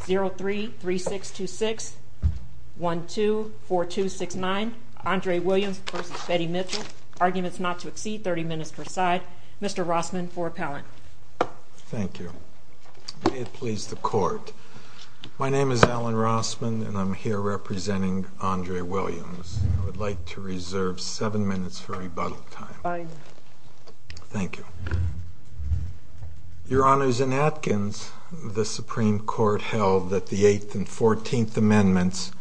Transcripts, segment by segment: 0-3-3-6-2-6, 1-2-4-2-6-9. Andre Williams v. Betty Mitchell. Arguments not to exceed 30 minutes per side. Mr. Rossman for appellant. Thank you. May it please the court. My name is Alan Rossman and I'm here representing Andre Williams. I would like to reserve 7 minutes for rebuttal time. Thank you. Your Honors, in Atkins, the Supreme Court held that the 8th and 14th Amendments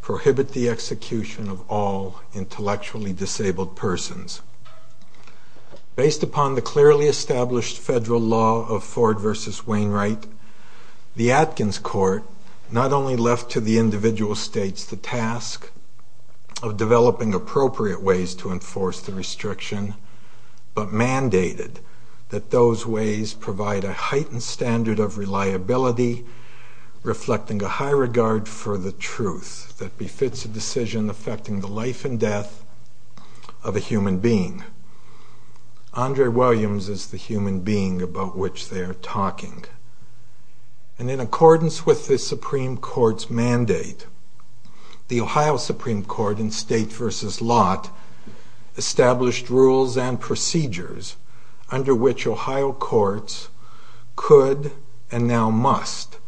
prohibit the execution of all intellectually disabled persons. Based upon the clearly established federal law of Ford v. Wainwright, the Atkins Court not only left to the individual states the task of developing appropriate ways to enforce the restriction, but mandated that those ways provide a heightened standard of reliability reflecting a high regard for the truth that befits a decision affecting the life and death of a human being. Andre Williams is the human being about which they are talking. And in accordance with the Supreme Court's mandate, the Ohio Supreme Court in State v. Lott established rules and procedures under which Ohio courts could and now must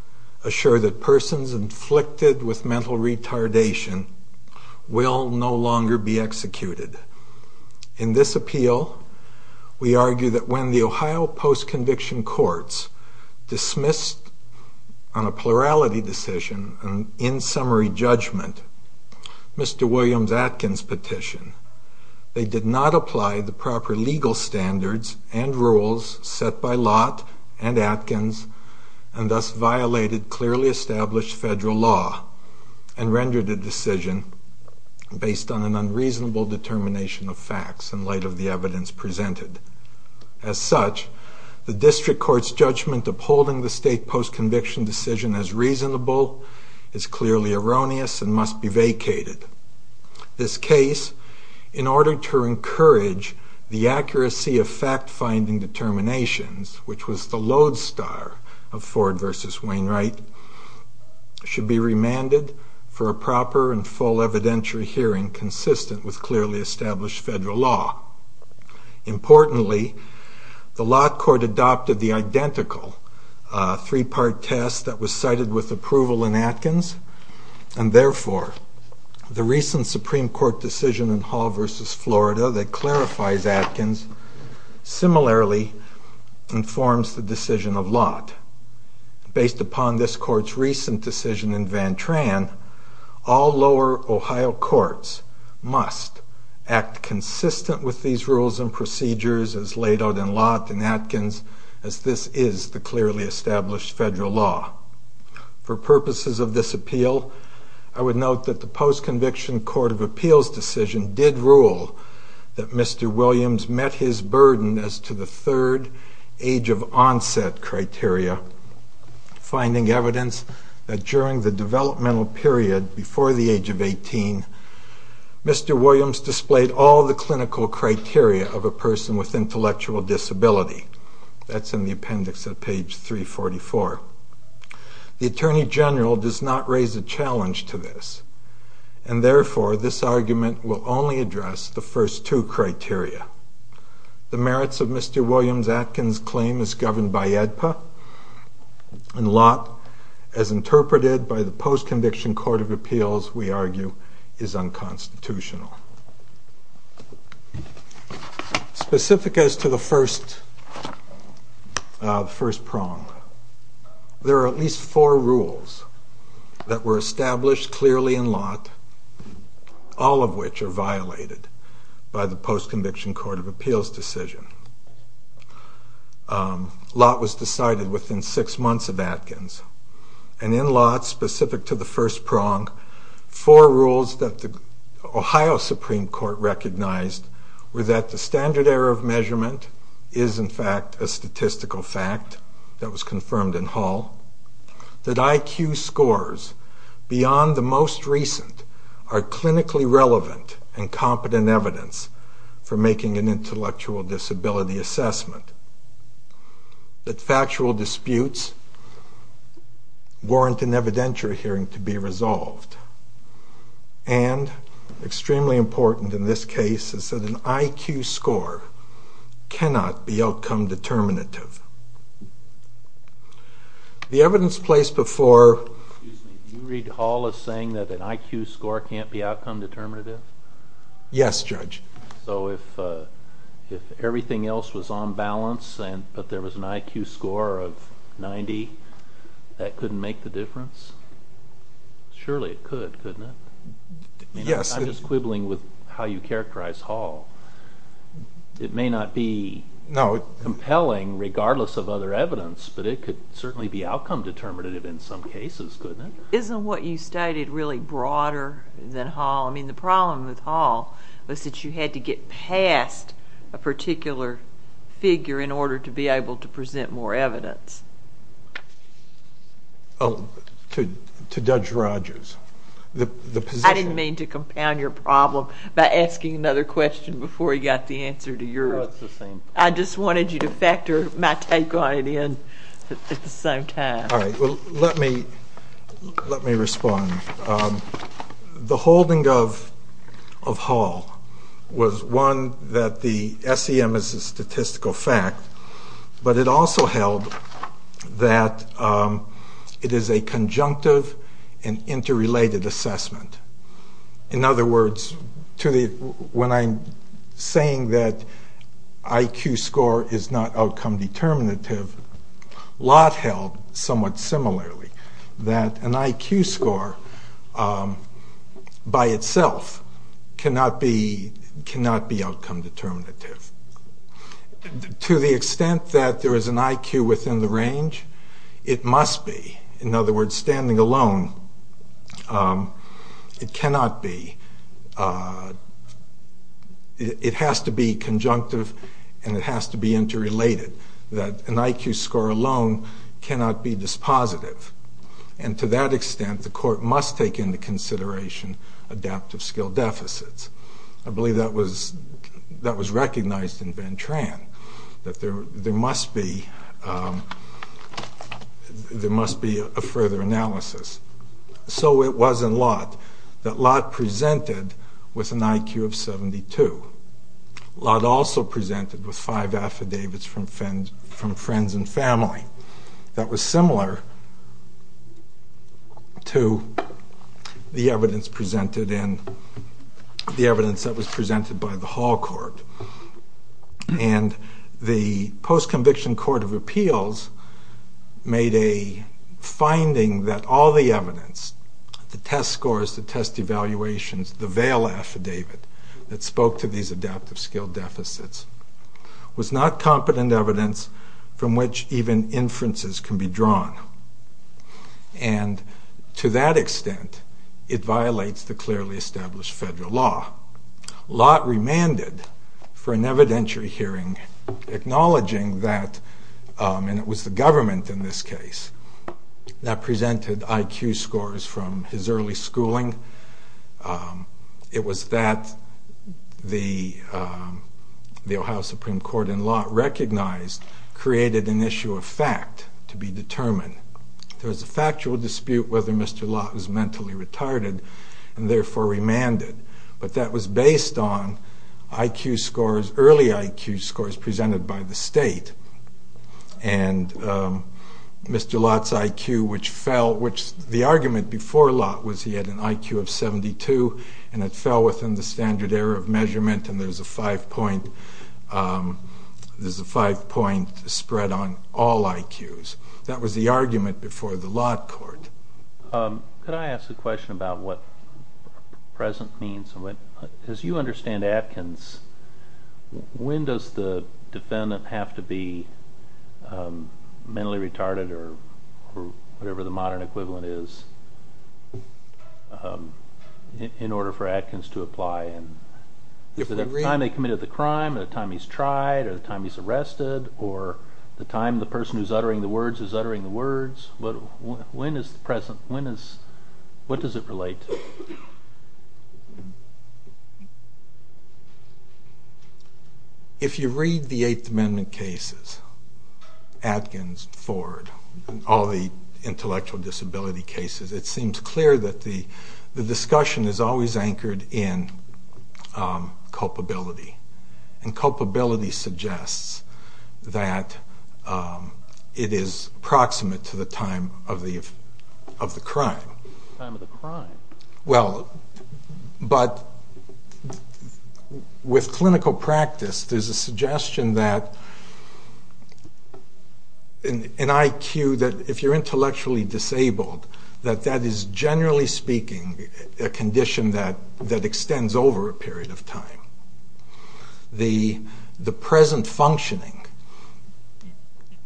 assure that persons inflicted with mental retardation will no longer be executed. In this appeal, we argue that when the Ohio post-conviction courts dismissed on a plurality decision, an in-summary judgment, Mr. Williams' Atkins petition, they did not apply the proper legal standards and rules set by Lott and Atkins, and thus violated clearly established federal law and rendered the decision based on an unreasonable determination of facts in light of the evidence presented. As such, the district court's judgment upholding the state post-conviction decision as reasonable is clearly erroneous and must be vacated. This case, in order to encourage the accuracy of fact-finding determinations, which was the lodestar of Ford v. Wainwright, should be remanded for a proper and full evidentiary hearing consistent with clearly established federal law. Importantly, the Lott court adopted the identical three-part test that was cited with approval in Atkins, and therefore the recent Supreme Court decision in Hall v. Florida that clarifies Atkins similarly informs the decision of Lott. Based upon this court's recent decision in Van Tran, all lower Ohio courts must act consistent with these rules and procedures as laid out in Lott and Atkins as this is the clearly established federal law. For purposes of this appeal, I would note that the post-conviction court of appeals decision did rule that Mr. Williams met his burden as to the third age of onset criteria, finding evidence that during the developmental period before the age of 18, Mr. Williams displayed all the clinical criteria of a person with intellectual disability. That's in the appendix at page 344. The Attorney General does not raise a challenge to this, and therefore this argument will only address the first two criteria. The merits of Mr. Williams' Atkins claim is governed by AEDPA, and Lott, as interpreted by the post-conviction court of appeals, we argue, is unconstitutional. Specific as to the first prong, there are at least four rules that were established clearly in Lott, all of which are violated by the post-conviction court of appeals decision. Lott was decided within six months of Atkins, and in Lott, specific to the first prong, four rules that the Ohio Supreme Court recognized were that the standard error of measurement is in fact a statistical fact that was confirmed in Hall, that IQ scores beyond the most recent are clinically relevant and competent evidence for making an intellectual disability assessment, that factual disputes warrant an evidentiary hearing to be resolved, and, extremely important in this case, that an IQ score cannot be outcome determinative. Excuse me, do you read Hall as saying that an IQ score can't be outcome determinative? Yes, Judge. So if everything else was on balance, but there was an IQ score of 90, that couldn't make the difference? Surely it could, couldn't it? Yes. I'm just quibbling with how you characterize Hall. It may not be compelling regardless of other evidence, but it could certainly be outcome determinative in some cases, couldn't it? Isn't what you stated really broader than Hall? I mean, the problem with Hall was that you had to get past a particular figure in order to be able to present more evidence. Oh, to Judge Rogers. I didn't mean to compound your problem by asking another question before you got the answer to yours. No, it's the same thing. I just wanted you to factor my take on it in at the same time. Let me respond. The holding of Hall was, one, that the SEM is a statistical fact, but it also held that it is a conjunctive and interrelated assessment. In other words, when I'm saying that IQ score is not outcome determinative, Lott held somewhat similarly, that an IQ score by itself cannot be outcome determinative. To the extent that there is an IQ within the range, it must be. In other words, standing alone, it cannot be. It has to be conjunctive and it has to be interrelated, that an IQ score alone cannot be dispositive. And to that extent, the court must take into consideration adaptive skill deficits. I believe that was recognized in Ventran, that there must be a further analysis. So it was in Lott that Lott presented with an IQ of 72. Lott also presented with five affidavits from friends and family. That was similar to the evidence that was presented by the Hall Court. And the post-conviction court of appeals made a finding that all the evidence, the test scores, the test evaluations, the veil affidavit that spoke to these adaptive skill deficits, was not competent evidence from which even inferences can be drawn. And to that extent, it violates the clearly established federal law. Lott remanded for an evidentiary hearing, acknowledging that, and it was the government in this case, that presented IQ scores from his early schooling. It was that the Ohio Supreme Court and Lott recognized created an issue of fact to be determined. There was a factual dispute whether Mr. Lott was mentally retarded, and therefore remanded. But that was based on IQ scores, early IQ scores, presented by the state. And Mr. Lott's IQ, which fell, which the argument before Lott was he had an IQ of 72, and it fell within the standard error of measurement, and there's a five-point spread on all IQs. That was the argument before the Lott court. Could I ask a question about what present means? As you understand Atkins, when does the defendant have to be mentally retarded or whatever the modern equivalent is in order for Atkins to apply? Is it the time they committed the crime, the time he's tried, or the time he's arrested, or the time the person who's uttering the words is uttering the words? When is present, when is, what does it relate to? If you read the Eighth Amendment cases, Atkins, Ford, and all the intellectual disability cases, it seems clear that the discussion is always anchored in culpability. And culpability suggests that it is proximate to the time of the crime. The time of the crime? Well, but with clinical practice, there's a suggestion that an IQ, that if you're intellectually disabled, that that is generally speaking a condition that extends over a period of time. The present functioning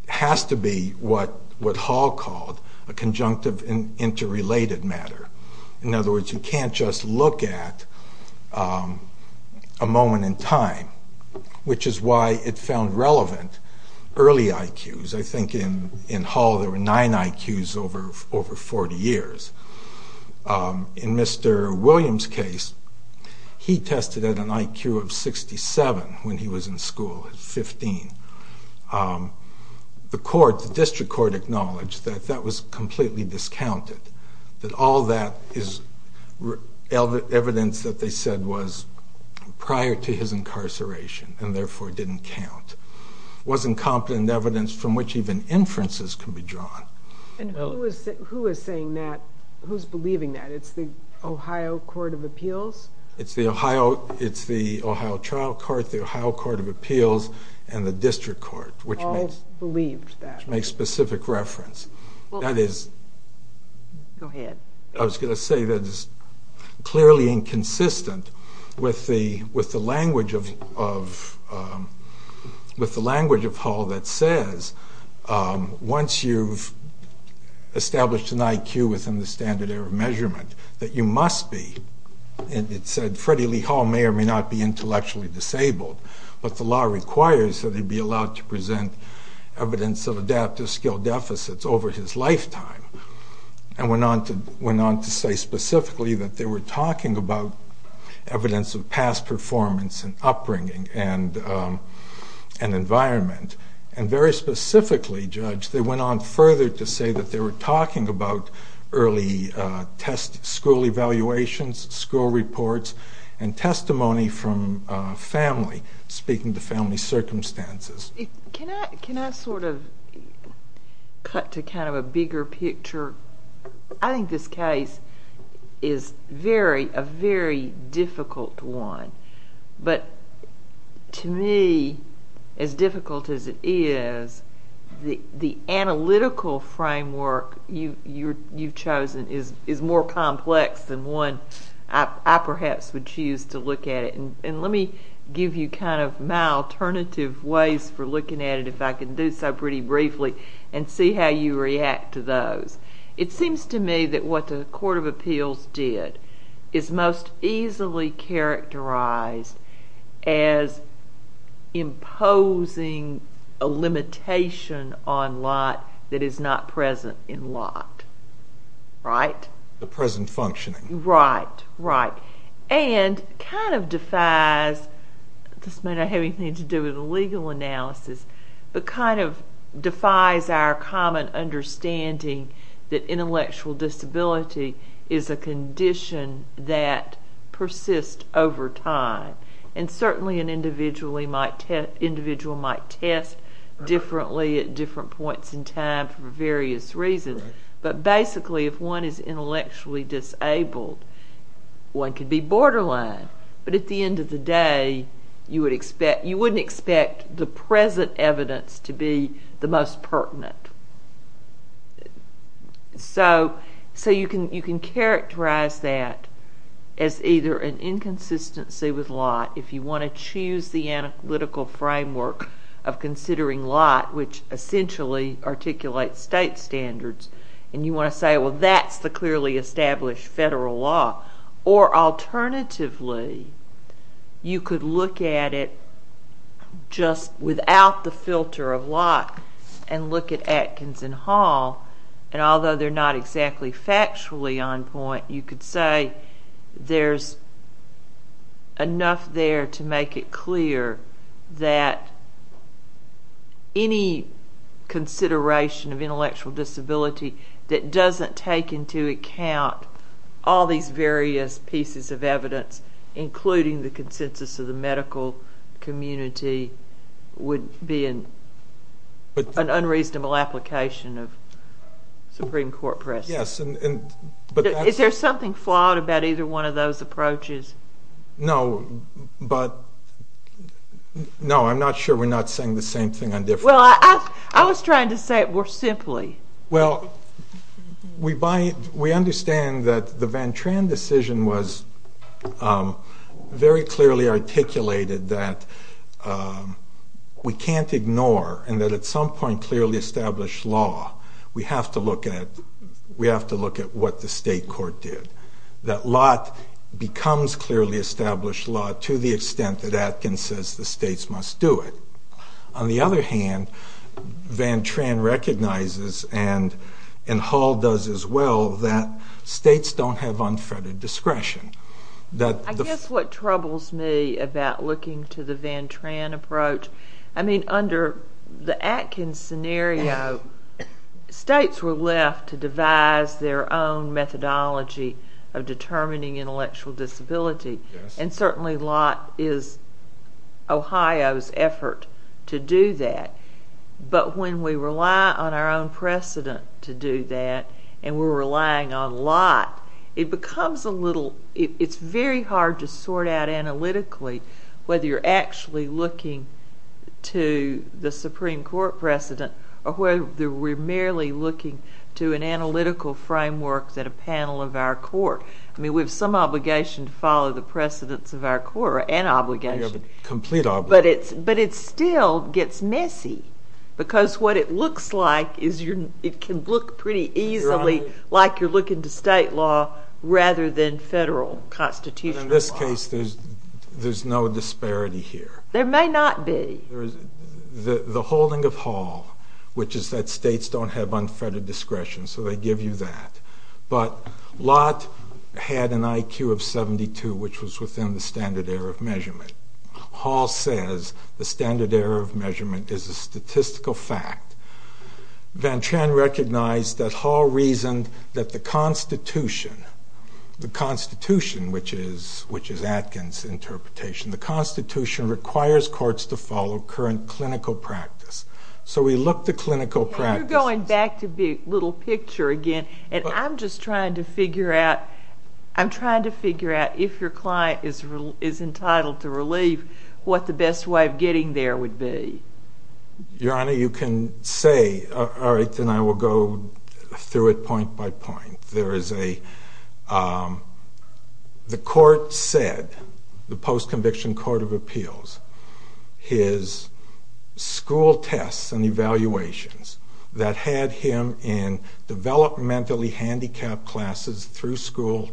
has to be what Hall called a conjunctive and interrelated matter. In other words, you can't just look at a moment in time, which is why it found relevant early IQs. I think in Hall there were nine IQs over 40 years. In Mr. Williams' case, he tested at an IQ of 67 when he was in school at 15. The court, the district court, acknowledged that that was completely discounted, that all that is evidence that they said was prior to his incarceration and therefore didn't count. It wasn't competent evidence from which even inferences can be drawn. And who is saying that? Who's believing that? It's the Ohio Court of Appeals? It's the Ohio trial court, the Ohio Court of Appeals, and the district court, which makes specific reference. Go ahead. I was going to say that it's clearly inconsistent with the language of Hall that says once you've established an IQ within the standard error measurement, that you must be, and it said Freddie Lee Hall may or may not be intellectually disabled, but the law requires that he be allowed to present evidence of adaptive skill deficits over his lifetime. And went on to say specifically that they were talking about evidence of past performance and upbringing and environment. And very specifically, Judge, they went on further to say that they were talking about early school evaluations, school reports, and testimony from family, speaking to family circumstances. Can I sort of cut to kind of a bigger picture? I think this case is a very difficult one, but to me, as difficult as it is, the analytical framework you've chosen is more complex than one I perhaps would choose to look at it. And let me give you kind of my alternative ways for looking at it, if I can do so pretty briefly, and see how you react to those. It seems to me that what the Court of Appeals did is most easily characterized as imposing a limitation on Lott that is not present in Lott. Right? The present functioning. Right, right. And kind of defies, this may not have anything to do with a legal analysis, but kind of defies our common understanding that intellectual disability is a condition that persists over time. And certainly an individual might test differently at different points in time for various reasons. But basically, if one is intellectually disabled, one could be borderline. But at the end of the day, you wouldn't expect the present evidence to be the most pertinent. So you can characterize that as either an inconsistency with Lott, if you want to choose the analytical framework of considering Lott, which essentially articulates state standards. And you want to say, well, that's the clearly established federal law. Or alternatively, you could look at it just without the filter of Lott and look at Atkinson Hall. And although they're not exactly factually on point, you could say there's enough there to make it clear that any consideration of intellectual disability that doesn't take into account all these various pieces of evidence, including the consensus of the medical community, would be an unreasonable application of Supreme Court precedent. Is there something flawed about either one of those approaches? No, but, no, I'm not sure we're not saying the same thing on different levels. Well, I was trying to say it more simply. Well, we understand that the Van Tran decision was very clearly articulated that we can't ignore, and that at some point clearly established law, we have to look at what the state court did. That Lott becomes clearly established law to the extent that Atkins says the states must do it. On the other hand, Van Tran recognizes, and Hall does as well, that states don't have unfettered discretion. I guess what troubles me about looking to the Van Tran approach, I mean, under the Atkins scenario, states were left to devise their own methodology of determining intellectual disability. And certainly Lott is Ohio's effort to do that. But when we rely on our own precedent to do that, and we're relying on Lott, it becomes a little, it's very hard to sort out analytically whether you're actually looking to the Supreme Court precedent or whether we're merely looking to an analytical framework that a panel of our court. I mean, we have some obligation to follow the precedents of our court, or an obligation. We have a complete obligation. But it still gets messy, because what it looks like is it can look pretty easily like you're looking to state law rather than federal constitutional law. In this case, there's no disparity here. There may not be. The holding of Hall, which is that states don't have unfettered discretion, so they give you that. But Lott had an IQ of 72, which was within the standard error of measurement. Hall says the standard error of measurement is a statistical fact. Van Tran recognized that Hall reasoned that the Constitution, the Constitution, which is Atkins' interpretation, the Constitution requires courts to follow current clinical practice. So we look to clinical practices. I'm going back to the little picture again, and I'm just trying to figure out, I'm trying to figure out if your client is entitled to relief, what the best way of getting there would be. Your Honor, you can say, all right, then I will go through it point by point. There is a, the court said, the post-conviction court of appeals, his school tests and evaluations that had him in developmentally handicapped classes through school,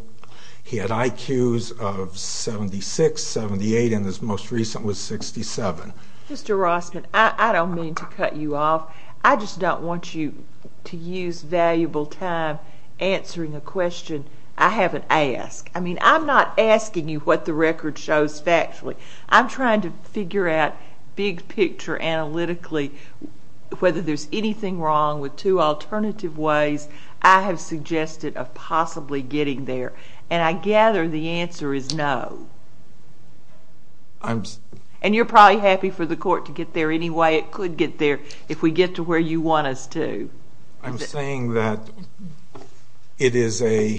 he had IQs of 76, 78, and his most recent was 67. Mr. Rossman, I don't mean to cut you off. I just don't want you to use valuable time answering a question I haven't asked. I mean, I'm not asking you what the record shows factually. I'm trying to figure out big picture analytically whether there's anything wrong with two alternative ways I have suggested of possibly getting there, and I gather the answer is no. And you're probably happy for the court to get there anyway. It could get there if we get to where you want us to. I'm saying that it is a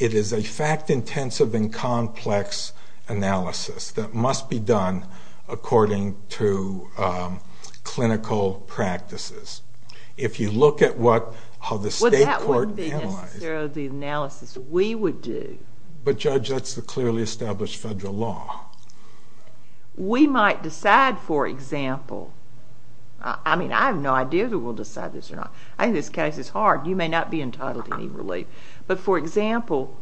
fact-intensive and complex analysis that must be done according to clinical practices. If you look at what, how the state court analyzed it. Well, that wouldn't be necessarily the analysis we would do. But, Judge, that's the clearly established federal law. We might decide, for example. I mean, I have no idea that we'll decide this or not. I think this case is hard. You may not be entitled to any relief. But, for example,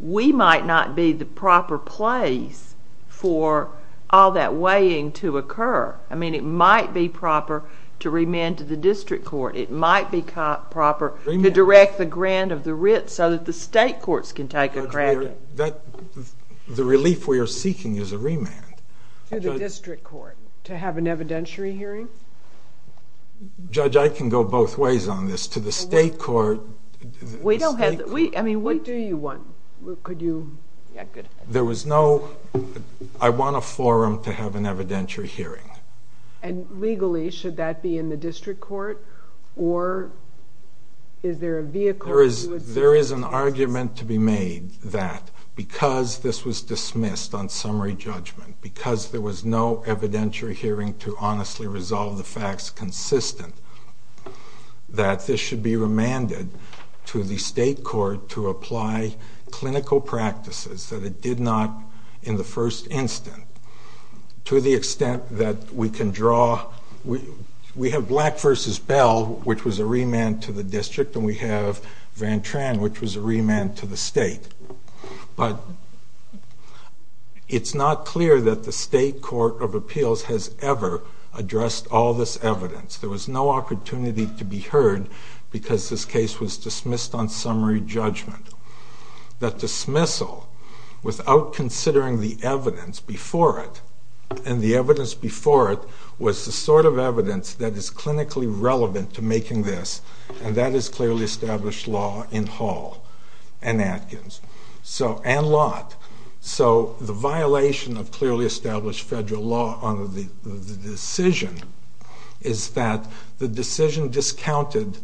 we might not be the proper place for all that weighing to occur. I mean, it might be proper to remand to the district court. It might be proper to direct the grant of the writ so that the state courts can take a grant. The relief we are seeking is a remand. To the district court to have an evidentiary hearing? Judge, I can go both ways on this. To the state court. We don't have. I mean, what do you want? There was no, I want a forum to have an evidentiary hearing. And legally, should that be in the district court? Or is there a vehicle? There is an argument to be made that because this was dismissed on summary judgment, because there was no evidentiary hearing to honestly resolve the facts consistent, that this should be remanded to the state court to apply clinical practices that it did not in the first instant. To the extent that we can draw. We have Black v. Bell, which was a remand to the district. And we have Van Tran, which was a remand to the state. But it's not clear that the state court of appeals has ever addressed all this evidence. There was no opportunity to be heard because this case was dismissed on summary judgment. That dismissal, without considering the evidence before it, and the evidence before it was the sort of evidence that is clinically relevant to making this, and that is clearly established law in Hall and Atkins and Lott. So the violation of clearly established federal law on the decision is that the decision discounted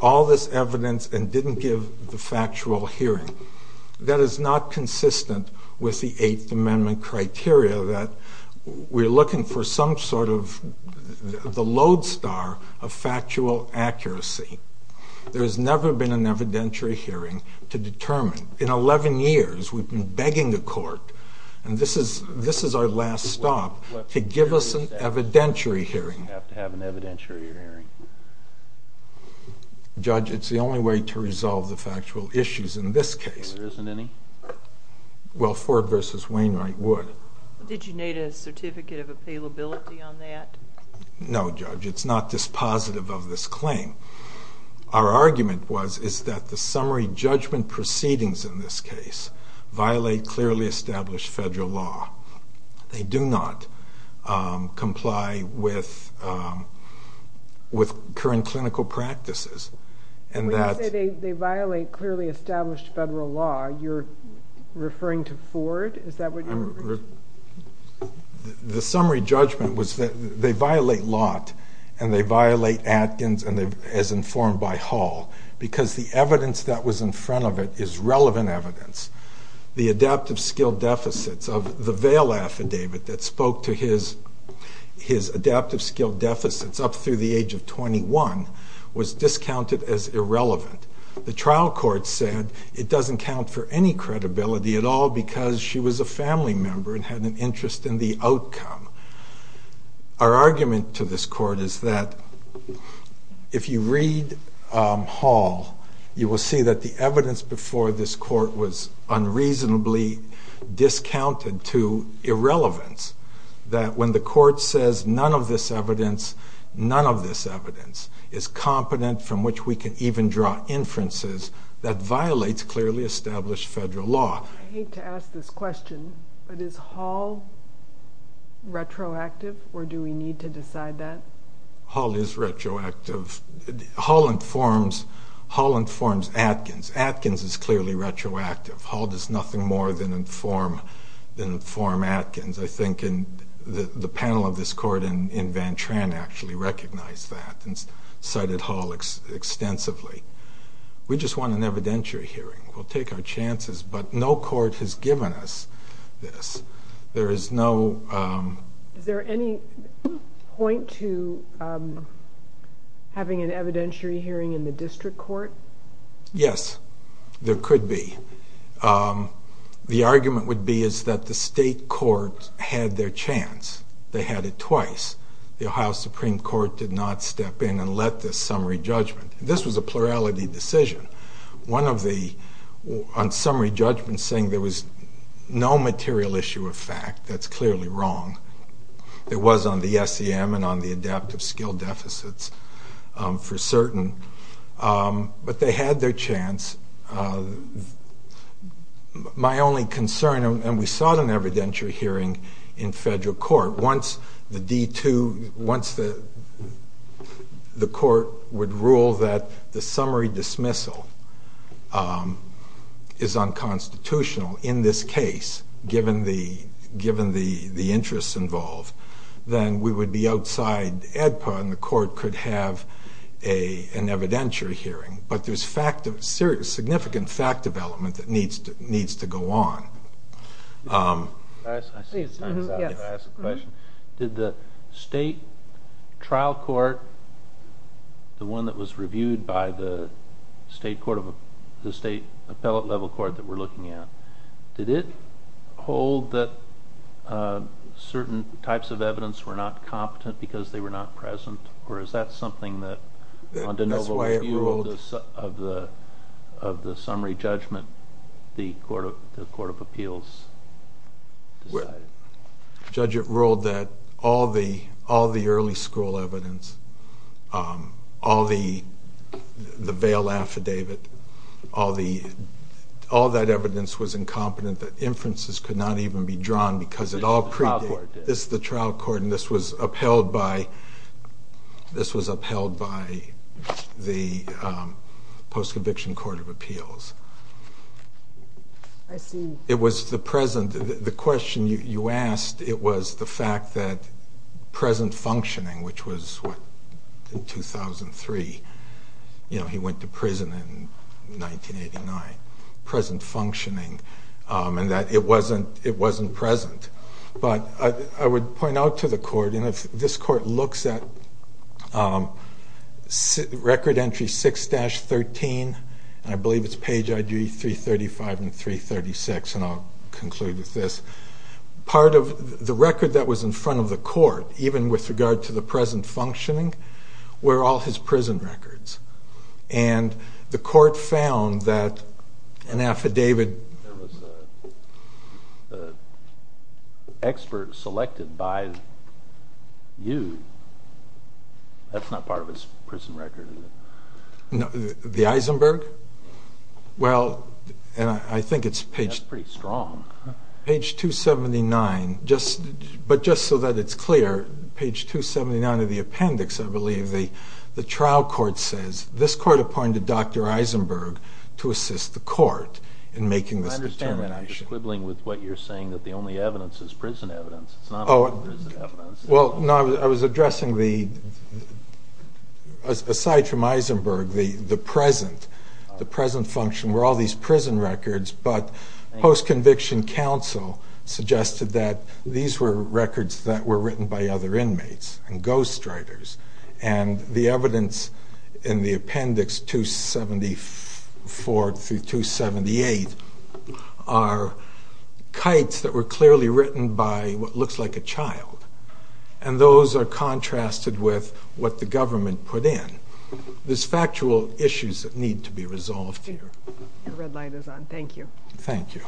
all this evidence and didn't give the factual hearing. That is not consistent with the Eighth Amendment criteria that we're looking for some sort of the lodestar of factual accuracy. There has never been an evidentiary hearing to determine. In 11 years we've been begging the court, and this is our last stop, to give us an evidentiary hearing. Judge, it's the only way to resolve the factual issues in this case. There isn't any? Well, Ford v. Wainwright would. Did you need a certificate of appealability on that? No, Judge, it's not dispositive of this claim. Our argument is that the summary judgment proceedings in this case violate clearly established federal law. They do not comply with current clinical practices. When you say they violate clearly established federal law, you're referring to Ford? Is that what you're referring to? The summary judgment was that they violate Lott, and they violate Atkins as informed by Hall because the evidence that was in front of it is relevant evidence. The adaptive skill deficits of the Vale affidavit that spoke to his adaptive skill deficits up through the age of 21 was discounted as irrelevant. The trial court said it doesn't count for any credibility at all because she was a family member and had an interest in the outcome. Our argument to this court is that if you read Hall, you will see that the evidence before this court was unreasonably discounted to irrelevance, that when the court says none of this evidence, none of this evidence is competent from which we can even draw inferences that violates clearly established federal law. I hate to ask this question, but is Hall retroactive, or do we need to decide that? Hall is retroactive. Hall informs Atkins. Atkins is clearly retroactive. Hall does nothing more than inform Atkins. I think the panel of this court in Van Tran actually recognized that and cited Hall extensively. We just want an evidentiary hearing. We'll take our chances, but no court has given us this. There is no... Is there any point to having an evidentiary hearing in the district court? Yes, there could be. The argument would be is that the state court had their chance. They had it twice. The Ohio Supreme Court did not step in and let this summary judgment. This was a plurality decision. On summary judgment saying there was no material issue of fact, that's clearly wrong. It was on the SEM and on the adaptive skill deficits for certain, but they had their chance. My only concern, and we sought an evidentiary hearing in federal court, once the D2, once the court would rule that the summary dismissal is unconstitutional in this case, given the interests involved, then we would be outside AEDPA and the court could have an evidentiary hearing. But there's significant fact development that needs to go on. Can I ask a question? Did the state trial court, the one that was reviewed by the state appellate level court that we're looking at, did it hold that certain types of evidence were not competent because they were not present? Or is that something that under no overview of the summary judgment the court of appeals decided? Judge, it ruled that all the early school evidence, all the veil affidavit, all that evidence was incompetent, that inferences could not even be drawn because it all predated. This is the trial court. This is the trial court, and this was upheld by the post-conviction court of appeals. I see. It was the present. The question you asked, it was the fact that present functioning, which was in 2003, he went to prison in 1989, present functioning, and that it wasn't present. But I would point out to the court, and this court looks at record entry 6-13, and I believe it's page ID 335 and 336, and I'll conclude with this. Part of the record that was in front of the court, even with regard to the present functioning, were all his prison records. And the court found that an affidavit... There was an expert selected by you. That's not part of his prison record, is it? The Eisenberg? Well, and I think it's page... That's pretty strong. Page 279, but just so that it's clear, page 279 of the appendix, I believe, the trial court says, this court appointed Dr. Eisenberg to assist the court in making this determination. I understand that. I'm just quibbling with what you're saying, that the only evidence is prison evidence. It's not only prison evidence. Well, no, I was addressing the... Aside from Eisenberg, the present function were all these prison records, but post-conviction counsel suggested that these were records that were written by other inmates and ghostwriters, and the evidence in the appendix 274 through 278 are kites that were clearly written by what looks like a child, and those are contrasted with what the government put in. There's factual issues that need to be resolved here. Your red light is on. Thank you. Thank you.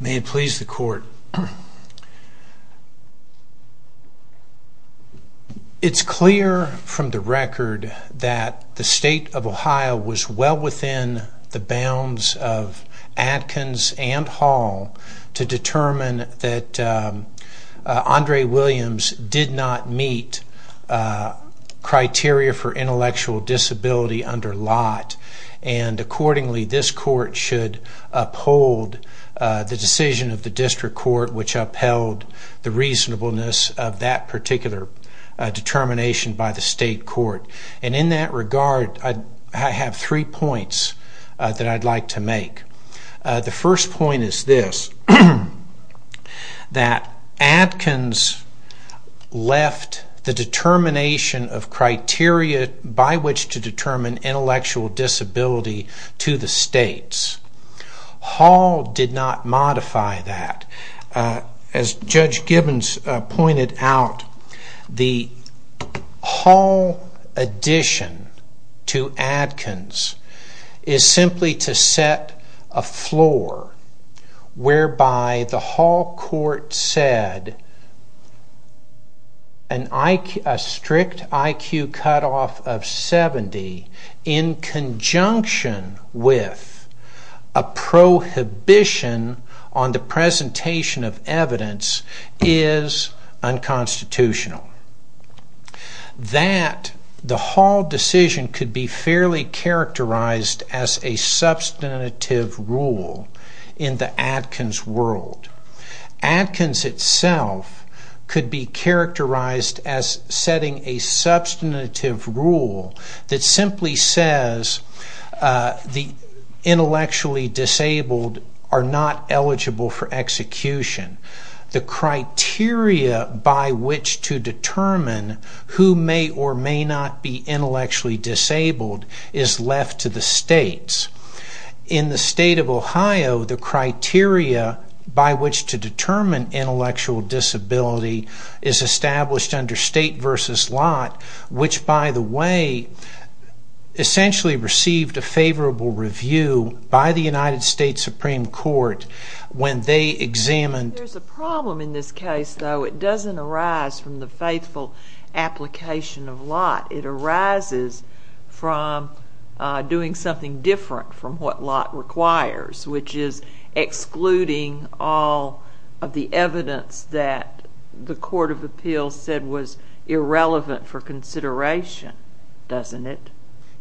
May it please the court. It's clear from the record that the state of Ohio was well within the bounds of Adkins and Hall to determine that Andre Williams did not meet criteria for intellectual disability under Lott, and accordingly this court should uphold the decision of the district court which upheld the reasonableness of that particular determination by the state court. And in that regard, I have three points that I'd like to make. The first point is this, that Adkins left the determination of criteria by which to determine intellectual disability to the states. Hall did not modify that. As Judge Gibbons pointed out, the Hall addition to Adkins is simply to set a floor whereby the Hall court said a strict IQ cutoff of 70 in conjunction with a prohibition on the presentation of evidence is unconstitutional. That the Hall decision could be fairly characterized as a substantive rule in the Adkins world. Adkins itself could be characterized as setting a substantive rule that simply says the intellectually disabled are not eligible for execution. The criteria by which to determine who may or may not be intellectually disabled is left to the states. In the state of Ohio, the criteria by which to determine intellectual disability is established under state versus Lott, which, by the way, essentially received a favorable review by the United States Supreme Court when they examined... There's a problem in this case, though. It doesn't arise from the faithful application of Lott. It arises from doing something different from what Lott requires, which is excluding all of the evidence that the court of appeals said was irrelevant for consideration, doesn't it?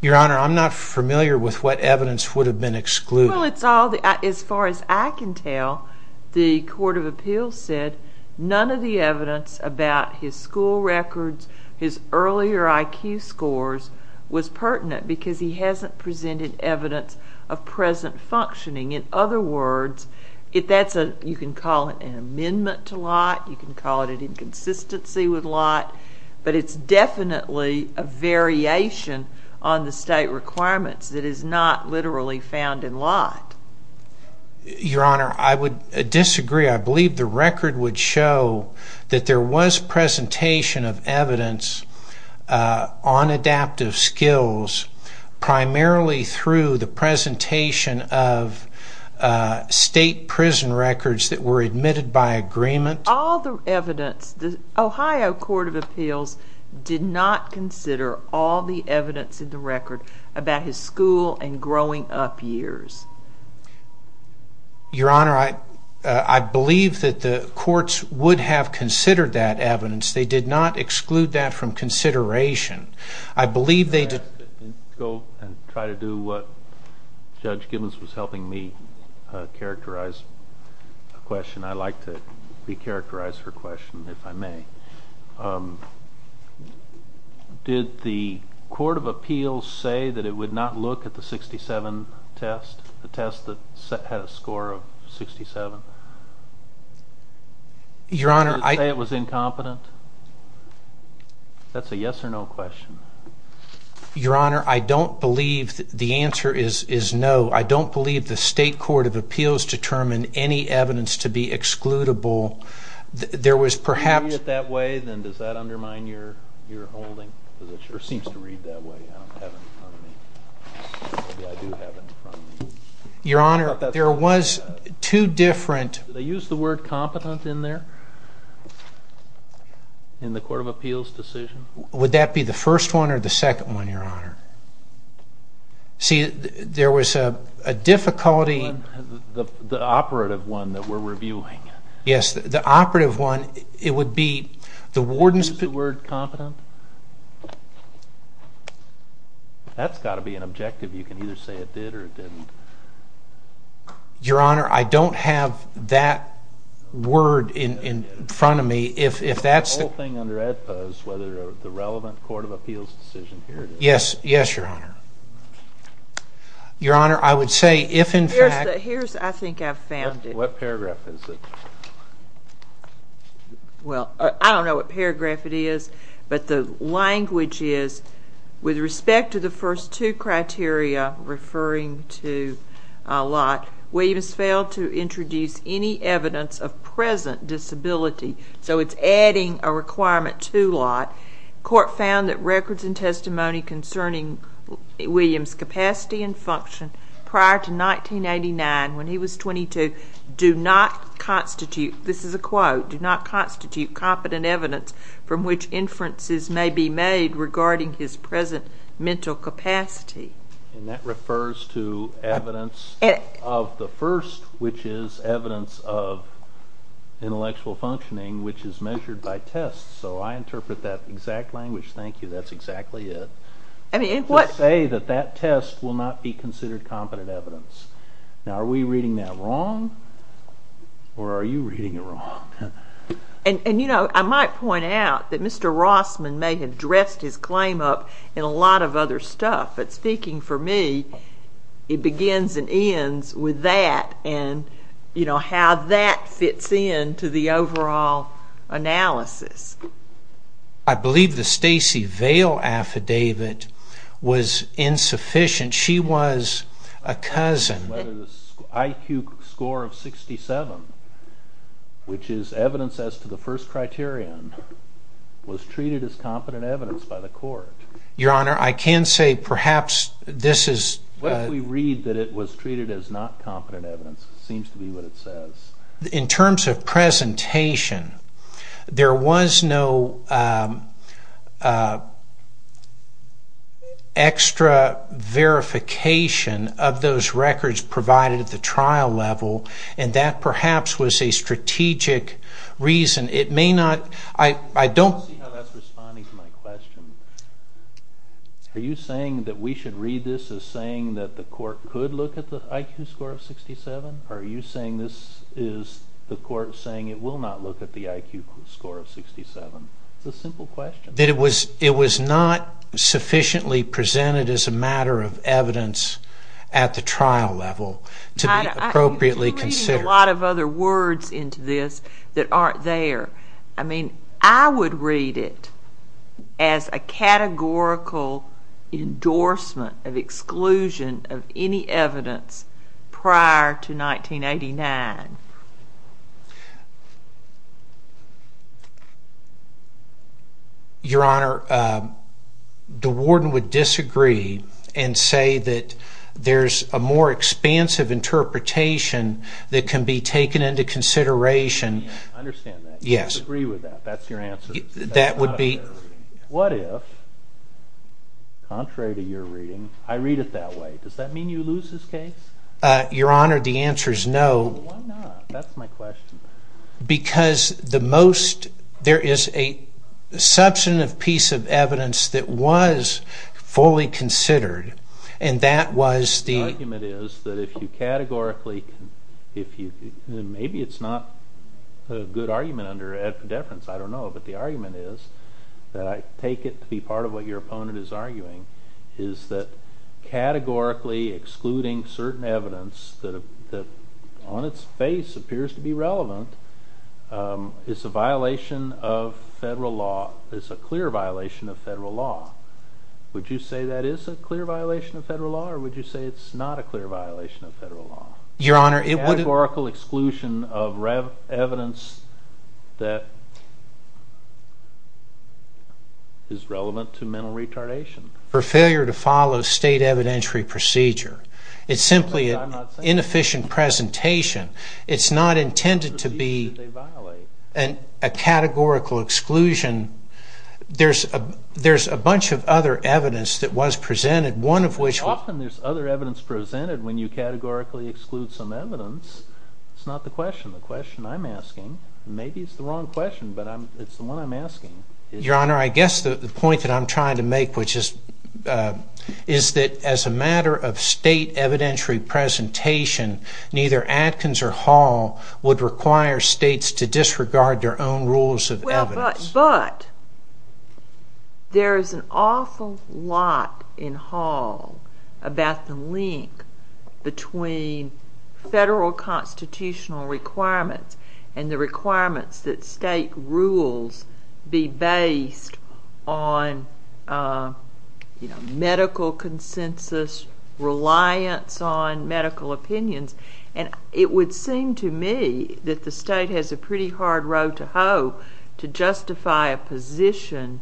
Your Honor, I'm not familiar with what evidence would have been excluded. Well, as far as I can tell, the court of appeals said none of the evidence about his school records, his earlier IQ scores, was pertinent because he hasn't presented evidence of present functioning. In other words, you can call it an amendment to Lott. You can call it an inconsistency with Lott. But it's definitely a variation on the state requirements that is not literally found in Lott. Your Honor, I would disagree. I believe the record would show that there was presentation of evidence on adaptive skills primarily through the presentation of state prison records that were admitted by agreement. All the evidence, the Ohio court of appeals did not consider all the evidence in the record about his school and growing up years. Your Honor, I believe that the courts would have considered that evidence. They did not exclude that from consideration. I believe they did. Let me go and try to do what Judge Gibbons was helping me characterize a question. I like to re-characterize her question, if I may. Did the court of appeals say that it would not look at the 67 test, the test that had a score of 67? Your Honor, I... Did it say it was incompetent? That's a yes or no question. Your Honor, I don't believe the answer is no. I don't believe the state court of appeals determined any evidence to be excludable. There was perhaps... If you read it that way, then does that undermine your holding? It seems to read that way. I don't have it in front of me. Maybe I do have it in front of me. Your Honor, there was two different... Did they use the word competent in there? In the court of appeals decision? Would that be the first one or the second one, Your Honor? See, there was a difficulty... The operative one that we're reviewing. Yes, the operative one. It would be the warden's... Is the word competent? That's got to be an objective. You can either say it did or it didn't. Your Honor, I don't have that word in front of me. If that's... The whole thing under ADPA is whether the relevant court of appeals decision... Yes, Your Honor. Your Honor, I would say if, in fact... Here's, I think, I've found it. What paragraph is it? Well, I don't know what paragraph it is, but the language is, with respect to the first two criteria referring to Lott, Williams failed to introduce any evidence of present disability, so it's adding a requirement to Lott. Court found that records and testimony concerning Williams' capacity and function prior to 1989, when he was 22, do not constitute... This is a quote. ...do not constitute competent evidence from which inferences may be made regarding his present mental capacity. And that refers to evidence of the first, which is evidence of intellectual functioning, which is measured by tests. So I interpret that exact language. Thank you. That's exactly it. I mean, what... To say that that test will not be considered competent evidence. Now, are we reading that wrong? Or are you reading it wrong? And, you know, I might point out that Mr. Rossman may have dressed his claim up in a lot of other stuff, but speaking for me, it begins and ends with that and, you know, how that fits in to the overall analysis. I believe the Stacey Vail affidavit was insufficient. She was a cousin. Whether the IQ score of 67, which is evidence as to the first criterion, was treated as competent evidence by the court. Your Honor, I can say perhaps this is... What if we read that it was treated as not competent evidence? It seems to be what it says. In terms of presentation, there was no extra verification of those records provided at the trial level, and that perhaps was a strategic reason. It may not... I don't... I don't see how that's responding to my question. Are you saying that we should read this as saying that the court could look at the IQ score of 67? Are you saying this is the court saying it will not look at the IQ score of 67? It's a simple question. That it was not sufficiently presented as a matter of evidence at the trial level to be appropriately considered. You're reading a lot of other words into this that aren't there. I mean, I would read it as a categorical endorsement of exclusion of any evidence prior to 1989. Your Honor, the warden would disagree and say that there's a more expansive interpretation that can be taken into consideration. I understand that. Yes. I disagree with that. That's your answer? That would be... What if, contrary to your reading, I read it that way? Does that mean you lose this case? Your Honor, the answer is no. Why not? That's my question. Because the most... There is a substantive piece of evidence that was fully considered and that was the... The argument is that if you categorically... Maybe it's not a good argument under affidavit. I don't know, but the argument is that I take it to be part of what your opponent is arguing is that categorically excluding certain evidence that on its face appears to be relevant is a violation of federal law, is a clear violation of federal law. Would you say that is a clear violation of federal law or would you say it's not a clear violation of federal law? Your Honor, it would... evidence that is relevant to mental retardation. For failure to follow state evidentiary procedure. It's simply an inefficient presentation. It's not intended to be a categorical exclusion. There's a bunch of other evidence that was presented, one of which was... Often there's other evidence presented when you categorically exclude some evidence. It's not the question, the question I'm asking. Maybe it's the wrong question, but it's the one I'm asking. Your Honor, I guess the point that I'm trying to make which is that as a matter of state evidentiary presentation, neither Adkins or Hall would require states to disregard their own rules of evidence. But there is an awful lot in Hall about the link between federal constitutional requirements and the requirements that state rules be based on medical consensus, reliance on medical opinions. And it would seem to me that the state has a pretty hard road to hoe to justify a position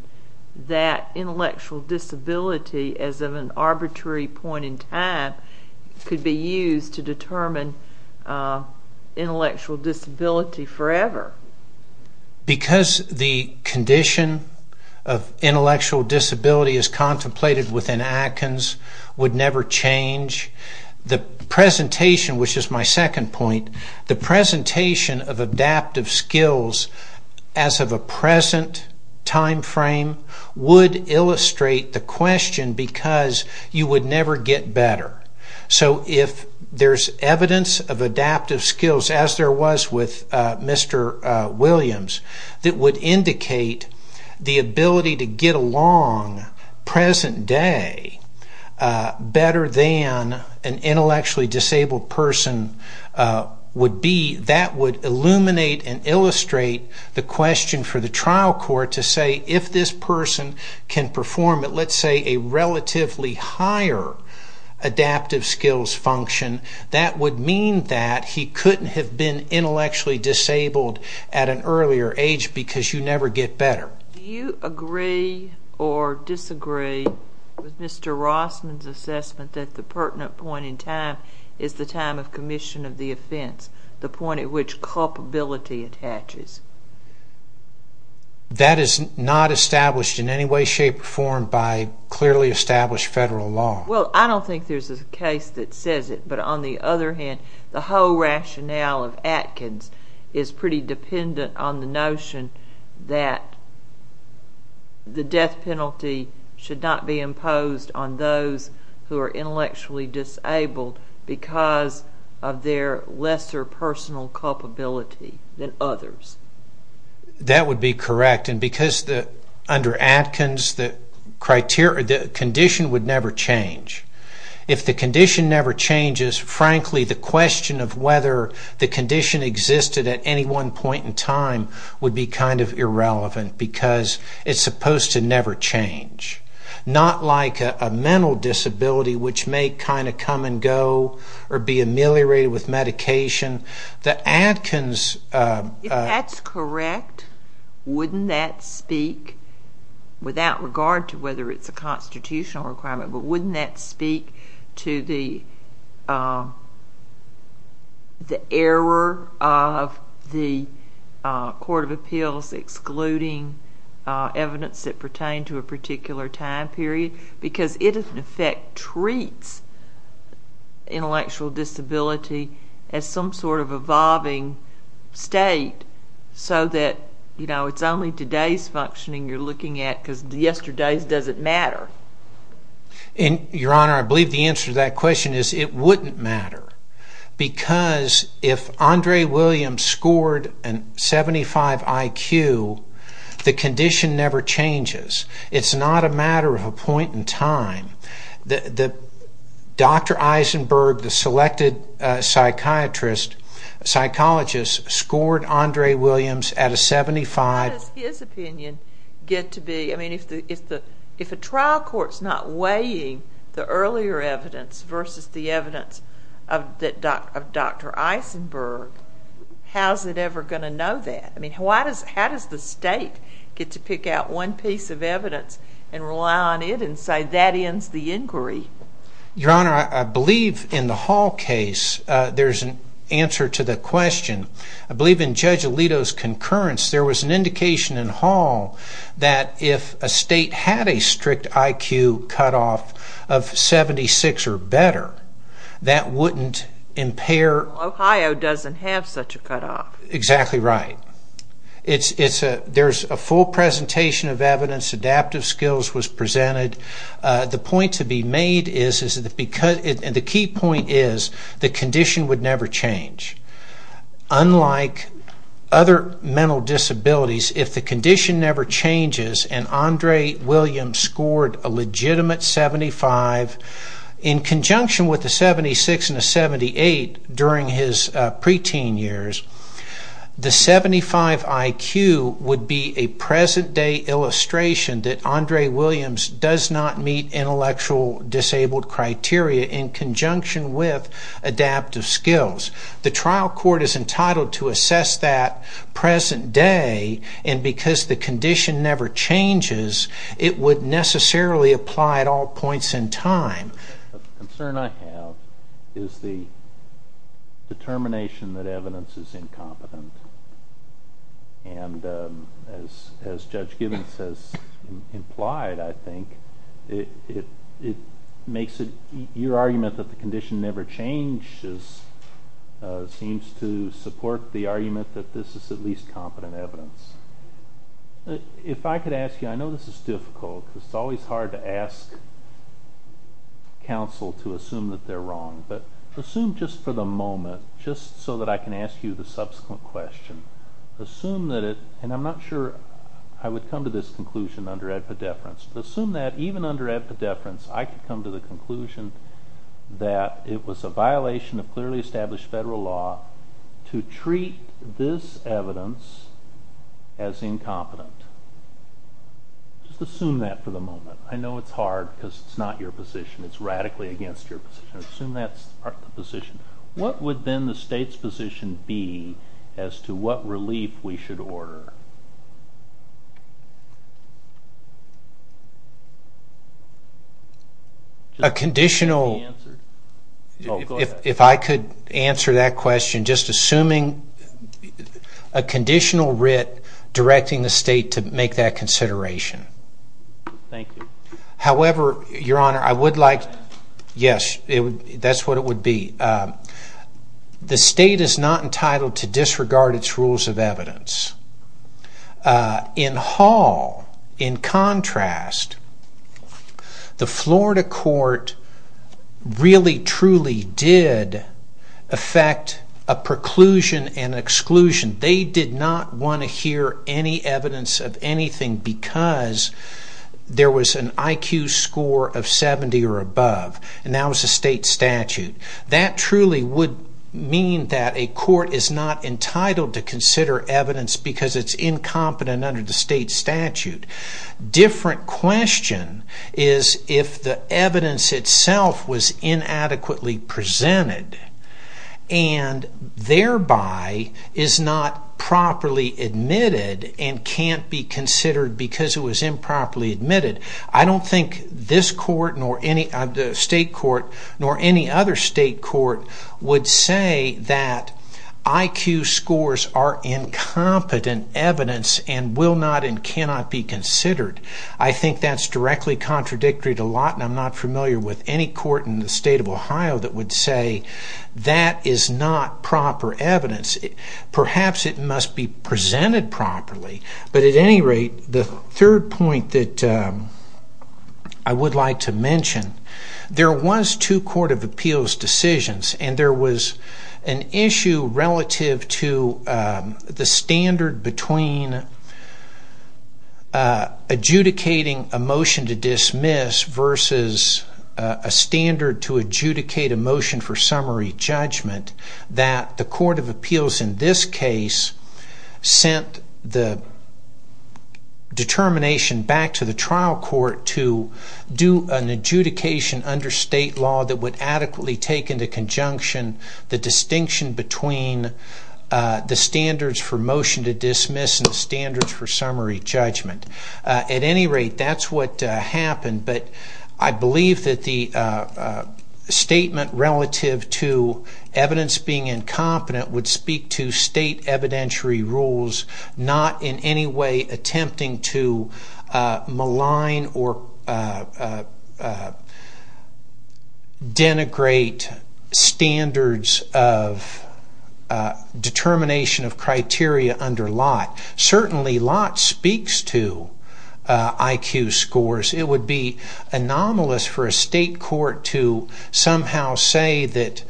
that intellectual disability as of an arbitrary point in time could be used to determine intellectual disability forever. Because the condition of intellectual disability as contemplated within Adkins would never change, the presentation, which is my second point, the presentation of adaptive skills as of a present time frame would illustrate the question because you would never get better. So if there's evidence of adaptive skills, as there was with Mr. Williams, that would indicate the ability to get along present day better than an intellectually disabled person would be, that would illuminate and illustrate the question for the trial court to say if this person can perform at, let's say, a relatively higher adaptive skills function, that would mean that he couldn't have been intellectually disabled at an earlier age because you never get better. Do you agree or disagree with Mr. Rossman's assessment that the pertinent point in time is the time of commission of the offense, the point at which culpability attaches? That is not established in any way, shape, or form by clearly established federal law. Well, I don't think there's a case that says it, but on the other hand, the whole rationale of Adkins is pretty dependent on the notion that the death penalty should not be imposed on those who are intellectually disabled because of their lesser personal culpability than others. That would be correct, and because under Adkins, the condition would never change. If the condition never changes, frankly, the question of whether the condition existed at any one point in time would be kind of irrelevant because it's supposed to never change. Not like a mental disability, which may kind of come and go or be ameliorated with medication. The Adkins... If that's correct, wouldn't that speak, without regard to whether it's a constitutional requirement, but wouldn't that speak to the error of the Court of Appeals excluding evidence that pertained to a particular time period? Because it, in effect, treats intellectual disability as some sort of evolving state so that it's only today's functioning you're looking at because yesterday's doesn't matter. Your Honor, I believe the answer to that question is it wouldn't matter because if Andre Williams scored a 75 IQ, the condition never changes. It's not a matter of a point in time. Dr. Eisenberg, the selected psychiatrist, psychologist, scored Andre Williams at a 75... How does his opinion get to be... I mean, if a trial court's not weighing the earlier evidence versus the evidence of Dr. Eisenberg, how's it ever going to know that? I mean, how does the state get to pick out one piece of evidence and rely on it and say, that ends the inquiry? Your Honor, I believe in the Hall case, there's an answer to the question. I believe in Judge Alito's concurrence, there was an indication in Hall that if a state had a strict IQ cutoff of 76 or better, that wouldn't impair... Ohio doesn't have such a cutoff. Exactly right. There's a full presentation of evidence. Adaptive skills was presented. The point to be made is... The key point is the condition would never change. Unlike other mental disabilities, if the condition never changes and Andre Williams scored a legitimate 75 in conjunction with a 76 and a 78 during his preteen years, the 75 IQ would be a present-day illustration that Andre Williams does not meet intellectual disabled criteria in conjunction with adaptive skills. The trial court is entitled to assess that present day, and because the condition never changes, it would necessarily apply at all points in time. The concern I have is the determination that evidence is incompetent. And as Judge Gibbons has implied, I think, it makes your argument that the condition never changes seems to support the argument that this is at least competent evidence. If I could ask you, I know this is difficult, because it's always hard to ask counsel to assume that they're wrong, but assume just for the moment, just so that I can ask you the subsequent question, assume that it... And I'm not sure I would come to this conclusion under epidepherence. Assume that even under epidepherence, I could come to the conclusion that it was a violation of clearly established federal law to treat this evidence as incompetent. Just assume that for the moment. I know it's hard, because it's not your position. It's radically against your position. Assume that's the position. What would then the state's position be as to what relief we should order? A conditional... If I could answer that question, just assuming a conditional writ directing the state to make that consideration. Thank you. However, Your Honor, I would like... Yes, that's what it would be. The state is not entitled to disregard its rules of evidence. In Hall, in contrast, the Florida court really truly did affect a preclusion and exclusion. They did not want to hear any evidence of anything because there was an IQ score of 70 or above, and that was a state statute. That truly would mean that a court is not entitled to consider evidence because it's incompetent under the state statute. Different question is if the evidence itself was inadequately presented and thereby is not properly admitted and can't be considered because it was improperly admitted. I don't think this court, state court, nor any other state court would say that IQ scores are incompetent evidence and will not and cannot be considered. I think that's directly contradictory to Lawton. I'm not familiar with any court in the state of Ohio that would say that is not proper evidence. Perhaps it must be presented properly. But at any rate, the third point that I would like to mention, there was two court of appeals decisions and there was an issue relative to the standard between adjudicating a motion to dismiss versus a standard to adjudicate a motion for summary judgment that the court of appeals in this case sent the determination back to the trial court to do an adjudication under state law that would adequately take into conjunction the distinction between the standards for motion to dismiss and the standards for summary judgment. At any rate, that's what happened. But I believe that the statement relative to evidence being incompetent would speak to state evidentiary rules not in any way attempting to malign or denigrate standards of determination of criteria under lot. Certainly lot speaks to IQ scores. It would be anomalous for a state court to somehow say that,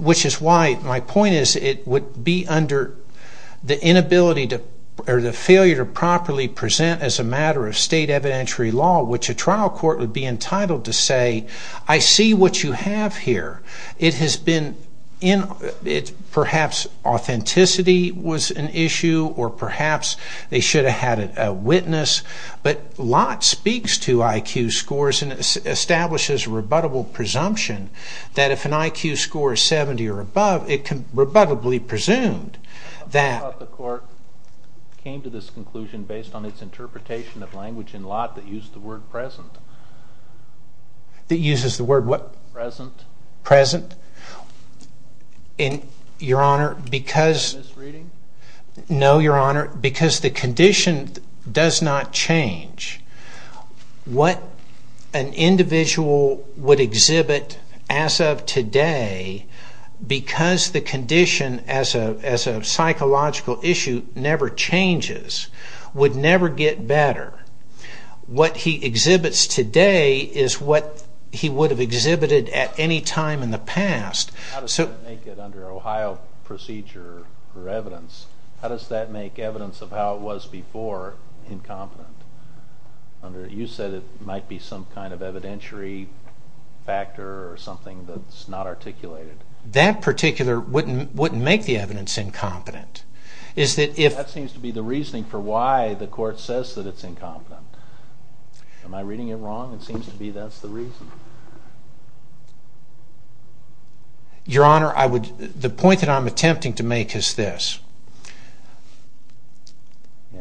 which is why my point is it would be under the inability or the failure to properly present as a matter of state evidentiary law, which a trial court would be entitled to say, I see what you have here. It has been perhaps authenticity was an issue or perhaps they should have had a witness. But lot speaks to IQ scores and establishes rebuttable presumption that if an IQ score is 70 or above, it can rebuttably presumed that... The court came to this conclusion based on its interpretation of language in lot that used the word present. That uses the word what? Present. Present. Your Honor, because... Misreading? No, Your Honor. Because the condition does not change. What an individual would exhibit as of today because the condition as a psychological issue never changes would never get better. What he exhibits today is what he would have exhibited at any time in the past. How does that make it under Ohio procedure or evidence? How does that make evidence of how it was before incompetent? You said it might be some kind of evidentiary factor or something that's not articulated. That particular wouldn't make the evidence incompetent. That seems to be the reasoning for why the court says that it's incompetent. Am I reading it wrong? It seems to be that's the reason. Your Honor, the point that I'm attempting to make is this.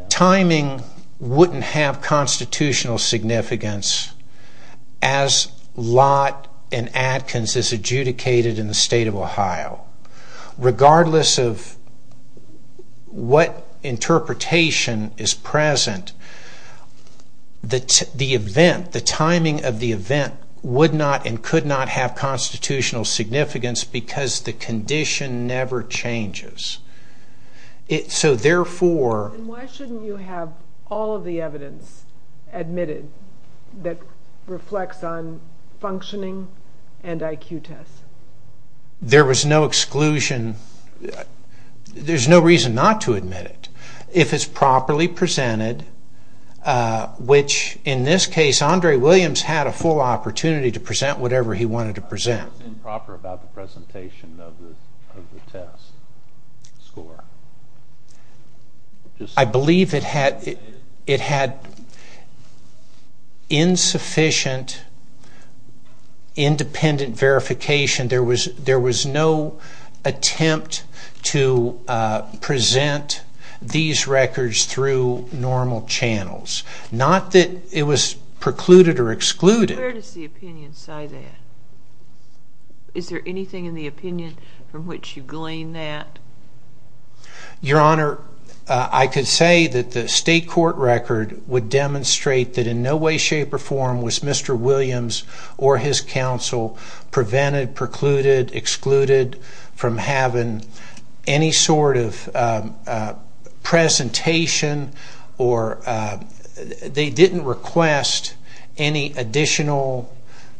Timing wouldn't have constitutional significance as Lott and Adkins adjudicated in the state of Ohio. Regardless of what interpretation is present, the timing of the event would not and could not have constitutional significance because the condition never changes. So therefore... Why shouldn't you have all of the evidence admitted that reflects on functioning and IQ tests? There was no exclusion. There's no reason not to admit it. If it's properly presented, which in this case, Andre Williams had a full opportunity to present whatever he wanted to present. What was improper about the presentation of the test score? I believe it had insufficient independent verification. There was no attempt to present these records through normal channels. Not that it was precluded or excluded. Where does the opinion side end? Is there anything in the opinion from which you glean that? Your Honor, I could say that the state court record would demonstrate that in no way, shape, or form was Mr. Williams or his counsel prevented, precluded, excluded from having any sort of presentation or they didn't request any additional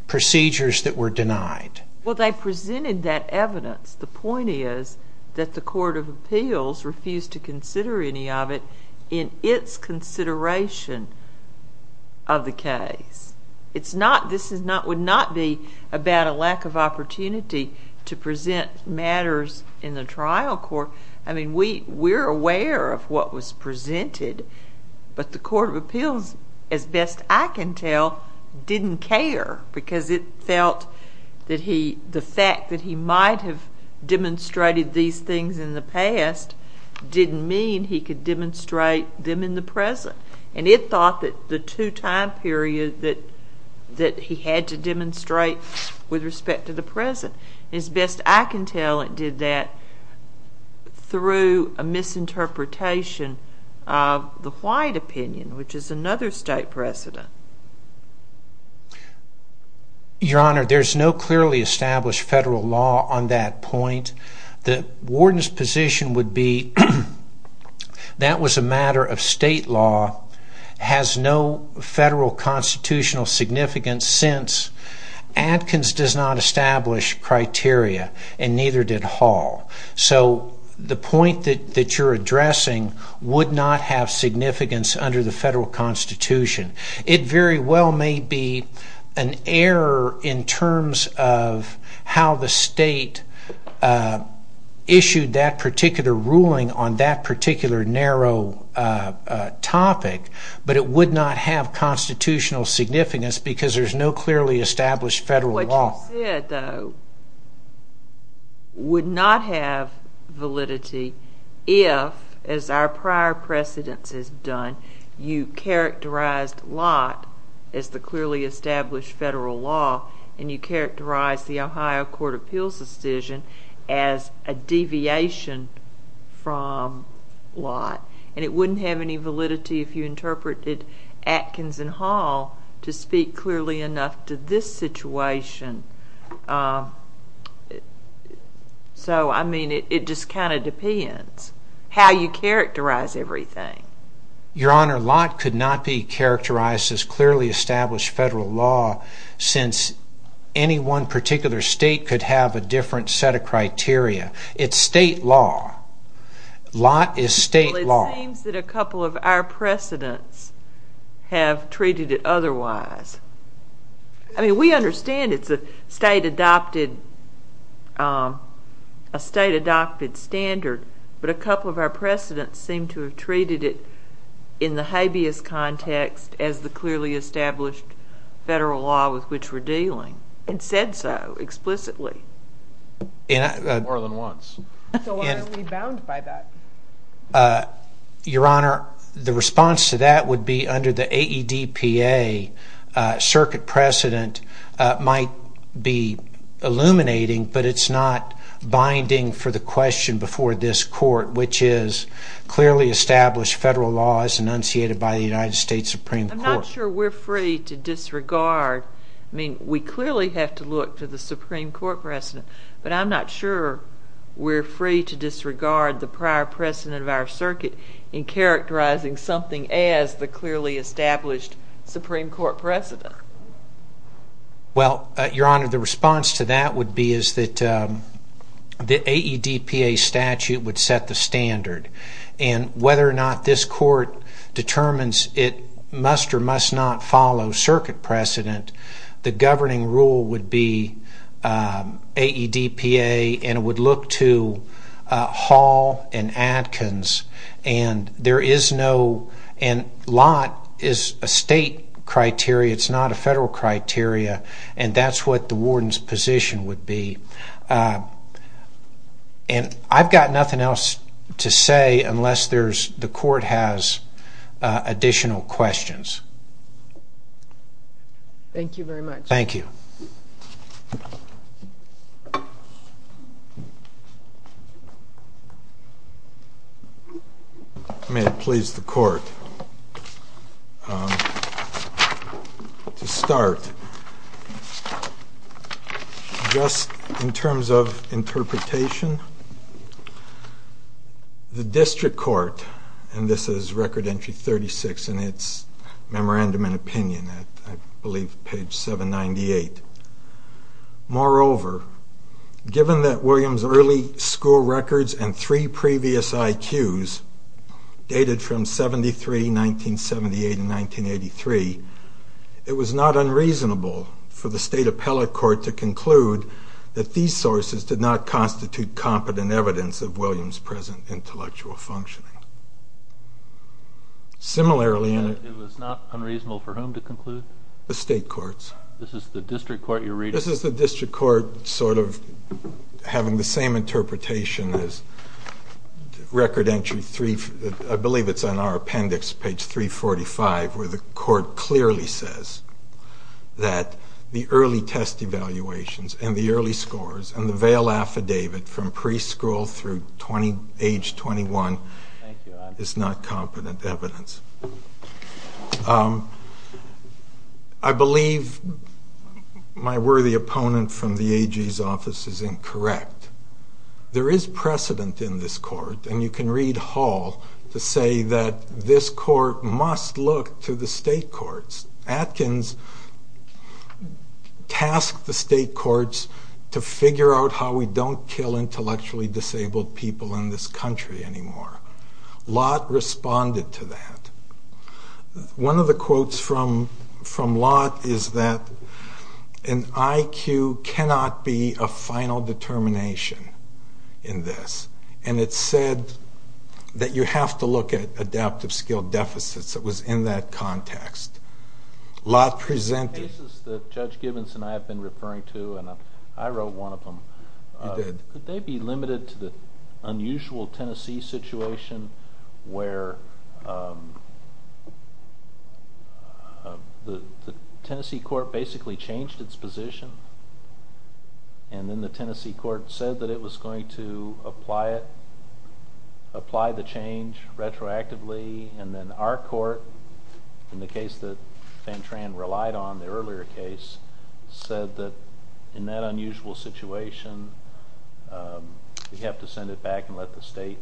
procedures that were denied. Well, they presented that evidence. The point is that the Court of Appeals refused to consider any of it in its consideration of the case. This would not be about a lack of opportunity to present matters in the trial court. We're aware of what was presented, but the Court of Appeals, as best I can tell, didn't care because it felt that the fact that he might have demonstrated these things in the past didn't mean he could demonstrate them in the present. It thought that the two-time period that he had to demonstrate with respect to the present, as best I can tell, it did that through a misinterpretation of the White opinion, which is another state precedent. Your Honor, there's no clearly established federal law on that point. The warden's position would be that was a matter of state law, has no federal constitutional significance since Atkins does not establish criteria and neither did Hall. So the point that you're addressing would not have significance under the federal Constitution. It very well may be an error in terms of how the state issued that particular ruling on that particular narrow topic, but it would not have constitutional significance because there's no clearly established federal law. What you said, though, would not have validity if, as our prior precedence has done, you characterized Lott as the clearly established federal law and you characterized the Ohio Court of Appeals decision as a deviation from Lott, and it wouldn't have any validity if you interpreted Atkins and Hall to speak clearly enough to this situation. So, I mean, it just kind of depends how you characterize everything. Your Honor, Lott could not be characterized as clearly established federal law since any one particular state could have a different set of criteria. It's state law. Lott is state law. Well, it seems that a couple of our precedents have treated it otherwise. I mean, we understand it's a state-adopted standard, but a couple of our precedents seem to have treated it in the habeas context as the clearly established federal law with which we're dealing and said so explicitly. More than once. So why are we bound by that? Your Honor, the response to that would be under the AEDPA. Circuit precedent might be illuminating, but it's not binding for the question before this court, which is clearly established federal law as enunciated by the United States Supreme Court. I'm not sure we're free to disregard. I mean, we clearly have to look to the Supreme Court precedent, but I'm not sure we're free to disregard the prior precedent of our circuit in characterizing something as the clearly established Supreme Court precedent. Well, Your Honor, the response to that would be is that the AEDPA statute would set the standard, and whether or not this court determines it must or must not follow circuit precedent, the governing rule would be AEDPA, and it would look to Hall and Adkins, and there is no, and lot is a state criteria, it's not a federal criteria, and that's what the warden's position would be. And I've got nothing else to say unless the court has additional questions. Thank you very much. Thank you. May it please the court. To start, just in terms of interpretation, the district court, and this is record entry 36 in its memorandum and opinion, I believe page 798, moreover, given that Williams' early school records and three previous IQs dated from 1973, 1978, and 1983, it was not unreasonable for the state appellate court to conclude that these sources did not constitute competent evidence of Williams' present intellectual functioning. Similarly... It was not unreasonable for whom to conclude? The state courts. This is the district court you're reading? This is the district court sort of having the same interpretation as record entry 3, I believe it's on our appendix, page 345, where the court clearly says that the early test evaluations and the early scores and the veil affidavit from preschool through age 21 is not competent evidence. I believe my worthy opponent from the AG's office is incorrect. There is precedent in this court, and you can read Hall to say that this court must look to the state courts. Atkins tasked the state courts to figure out how we don't kill intellectually disabled people in this country anymore. Lott responded to that. One of the quotes from Lott is that an IQ cannot be a final determination in this, and it said that you have to look at adaptive skill deficits. It was in that context. Lott presented... The cases that Judge Gibbons and I have been referring to, and I wrote one of them... You did. Could they be limited to the unusual Tennessee situation where the Tennessee court basically changed its position, and then the Tennessee court said that it was going to apply the change retroactively, and then our court, in the case that Van Tran relied on, the earlier case, said that in that unusual situation, we have to send it back and let the state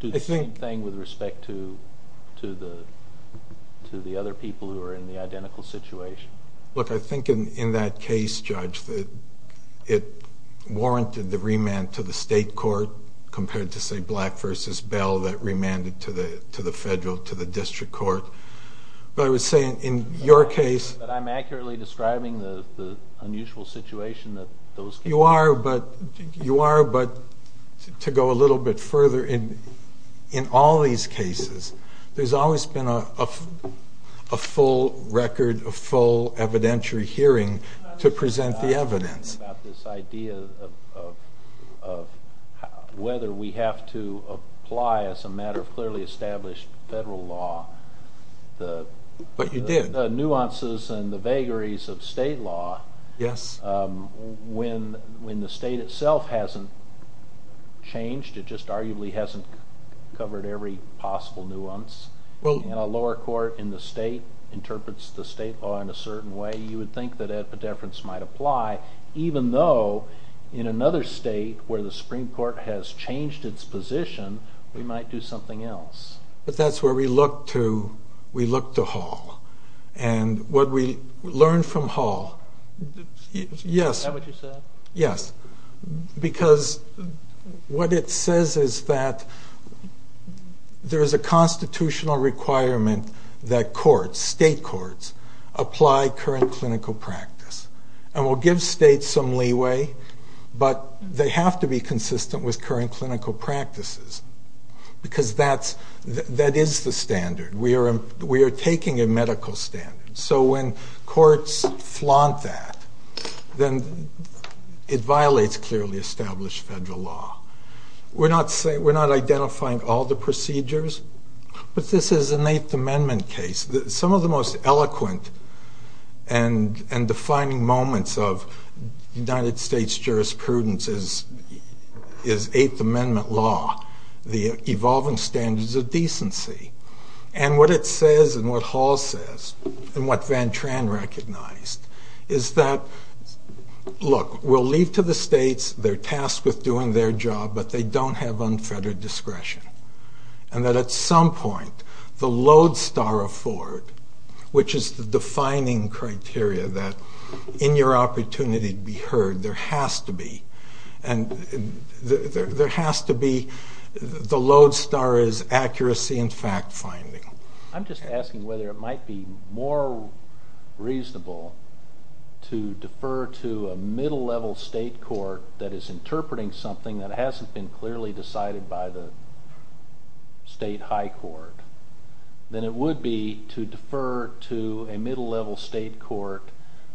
do the same thing with respect to the other people who are in the identical situation? Look, I think in that case, Judge, it warranted the remand to the state court compared to, say, Black v. Bell that remanded to the federal, to the district court. But I would say in your case... But I'm accurately describing the unusual situation that those cases... You are, but to go a little bit further, in all these cases, there's always been a full record, a full evidentiary hearing to present the evidence. I was just talking about this idea of whether we have to apply, as a matter of clearly established federal law... But you did. ...the nuances and the vagaries of state law. Yes. When the state itself hasn't changed, it just arguably hasn't covered every possible nuance, and a lower court in the state interprets the state law in a certain way, you would think that epidefrance might apply, even though in another state where the Supreme Court has changed its position, we might do something else. But that's where we look to Hall. And what we learn from Hall... Is that what you said? Yes. Because what it says is that there is a constitutional requirement that courts, state courts, apply current clinical practice. And we'll give states some leeway, but they have to be consistent with current clinical practices, because that is the standard. We are taking a medical standard. So when courts flaunt that, then it violates clearly established federal law. We're not identifying all the procedures, but this is an Eighth Amendment case. Some of the most eloquent and defining moments of United States jurisprudence is Eighth Amendment law, the evolving standards of decency. And what it says, and what Hall says, and what Van Tran recognized, is that, look, we'll leave to the states, they're tasked with doing their job, but they don't have unfettered discretion. And that at some point, the lodestar of Ford, which is the defining criteria that in your opportunity to be heard, there has to be, and there has to be the lodestar is accuracy in fact-finding. I'm just asking whether it might be more reasonable to defer to a middle-level state court that is interpreting something that hasn't been clearly decided by the state high court than it would be to defer to a middle-level state court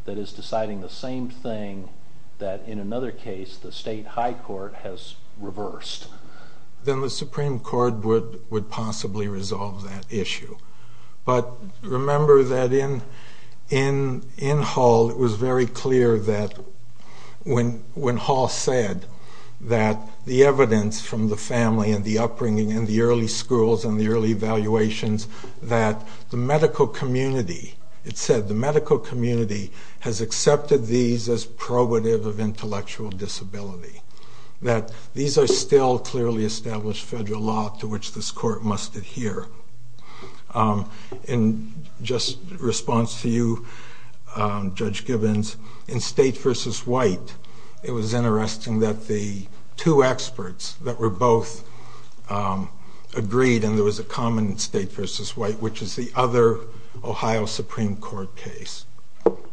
that is deciding the same thing that, in another case, the state high court has reversed. Then the Supreme Court would possibly resolve that issue. But remember that in Hall, it was very clear that when Hall said that the evidence from the family and the upbringing and the early schools and the early evaluations that the medical community, it said the medical community has accepted these as probative of intellectual disability, that these are still clearly established federal law to which this court must adhere. In just response to you, Judge Gibbons, in State v. White, it was interesting that the two experts that were both agreed, and there was a common State v. White, which is the other Ohio Supreme Court case,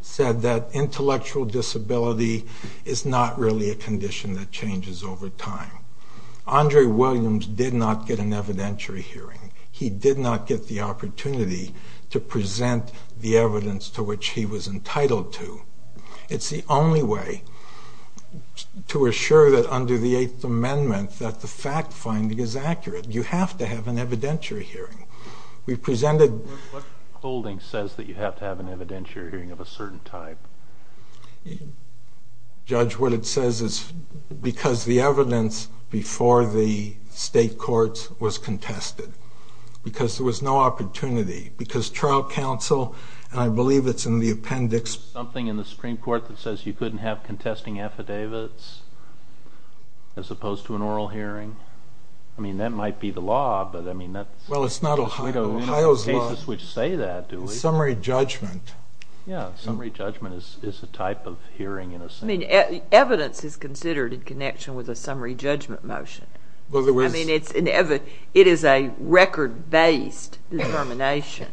said that intellectual disability is not really a condition that changes over time. Andre Williams did not get an evidentiary hearing. He did not get the opportunity to present the evidence to which he was entitled to. It's the only way to assure that under the Eighth Amendment that the fact-finding is accurate. You have to have an evidentiary hearing. What holding says that you have to have an evidentiary hearing of a certain type? Judge, what it says is because the evidence before the State courts was contested, because there was no opportunity, because trial counsel, and I believe it's in the appendix... Is there something in the Supreme Court that says you couldn't have contesting affidavits as opposed to an oral hearing? I mean, that might be the law, but that's... Well, it's not Ohio's law. You don't have cases which say that, do you? It's summary judgment. Yeah, summary judgment is a type of hearing in a sense. Evidence is considered in connection with a summary judgment motion. I mean, it is a record-based determination.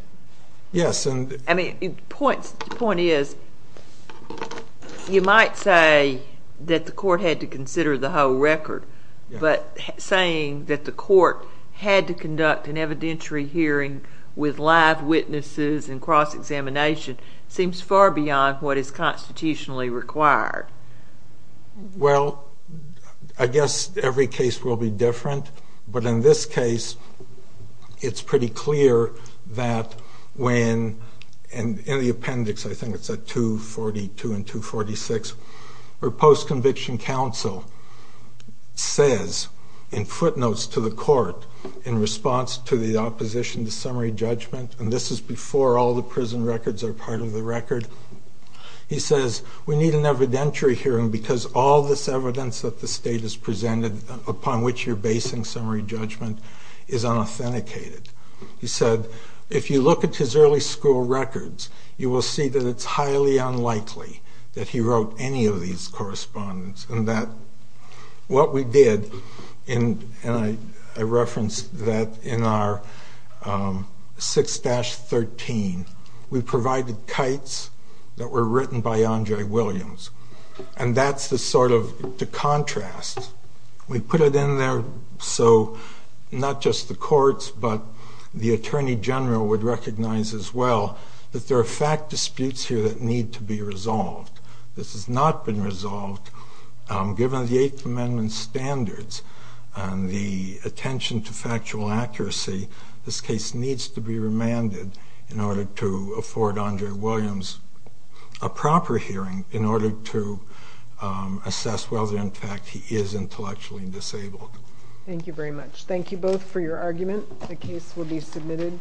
Yes, and... I mean, the point is you might say that the court had to consider the whole record, but saying that the court had to conduct an evidentiary hearing with live witnesses and cross-examination seems far beyond what is constitutionally required. Well, I guess every case will be different, but in this case, it's pretty clear that when... In the appendix, I think it's at 242 and 246, where post-conviction counsel says in footnotes to the court in response to the opposition to summary judgment, and this is before all the prison records are part of the record. He says, we need an evidentiary hearing because all this evidence that the state has presented upon which you're basing summary judgment is unauthenticated. He said, if you look at his early school records, you will see that it's highly unlikely that he wrote any of these correspondence, and that what we did in... And I referenced that in our 6-13, we provided kites that were written by Andre Williams, and that's the sort of... the contrast. We put it in there so not just the courts, but the attorney general would recognize as well that there are fact disputes here that need to be resolved. This has not been resolved. Given the Eighth Amendment standards and the attention to factual accuracy, this case needs to be remanded in order to afford Andre Williams a proper hearing in order to assess whether, in fact, he is intellectually disabled. Thank you very much. Thank you both for your argument. The case will be submitted.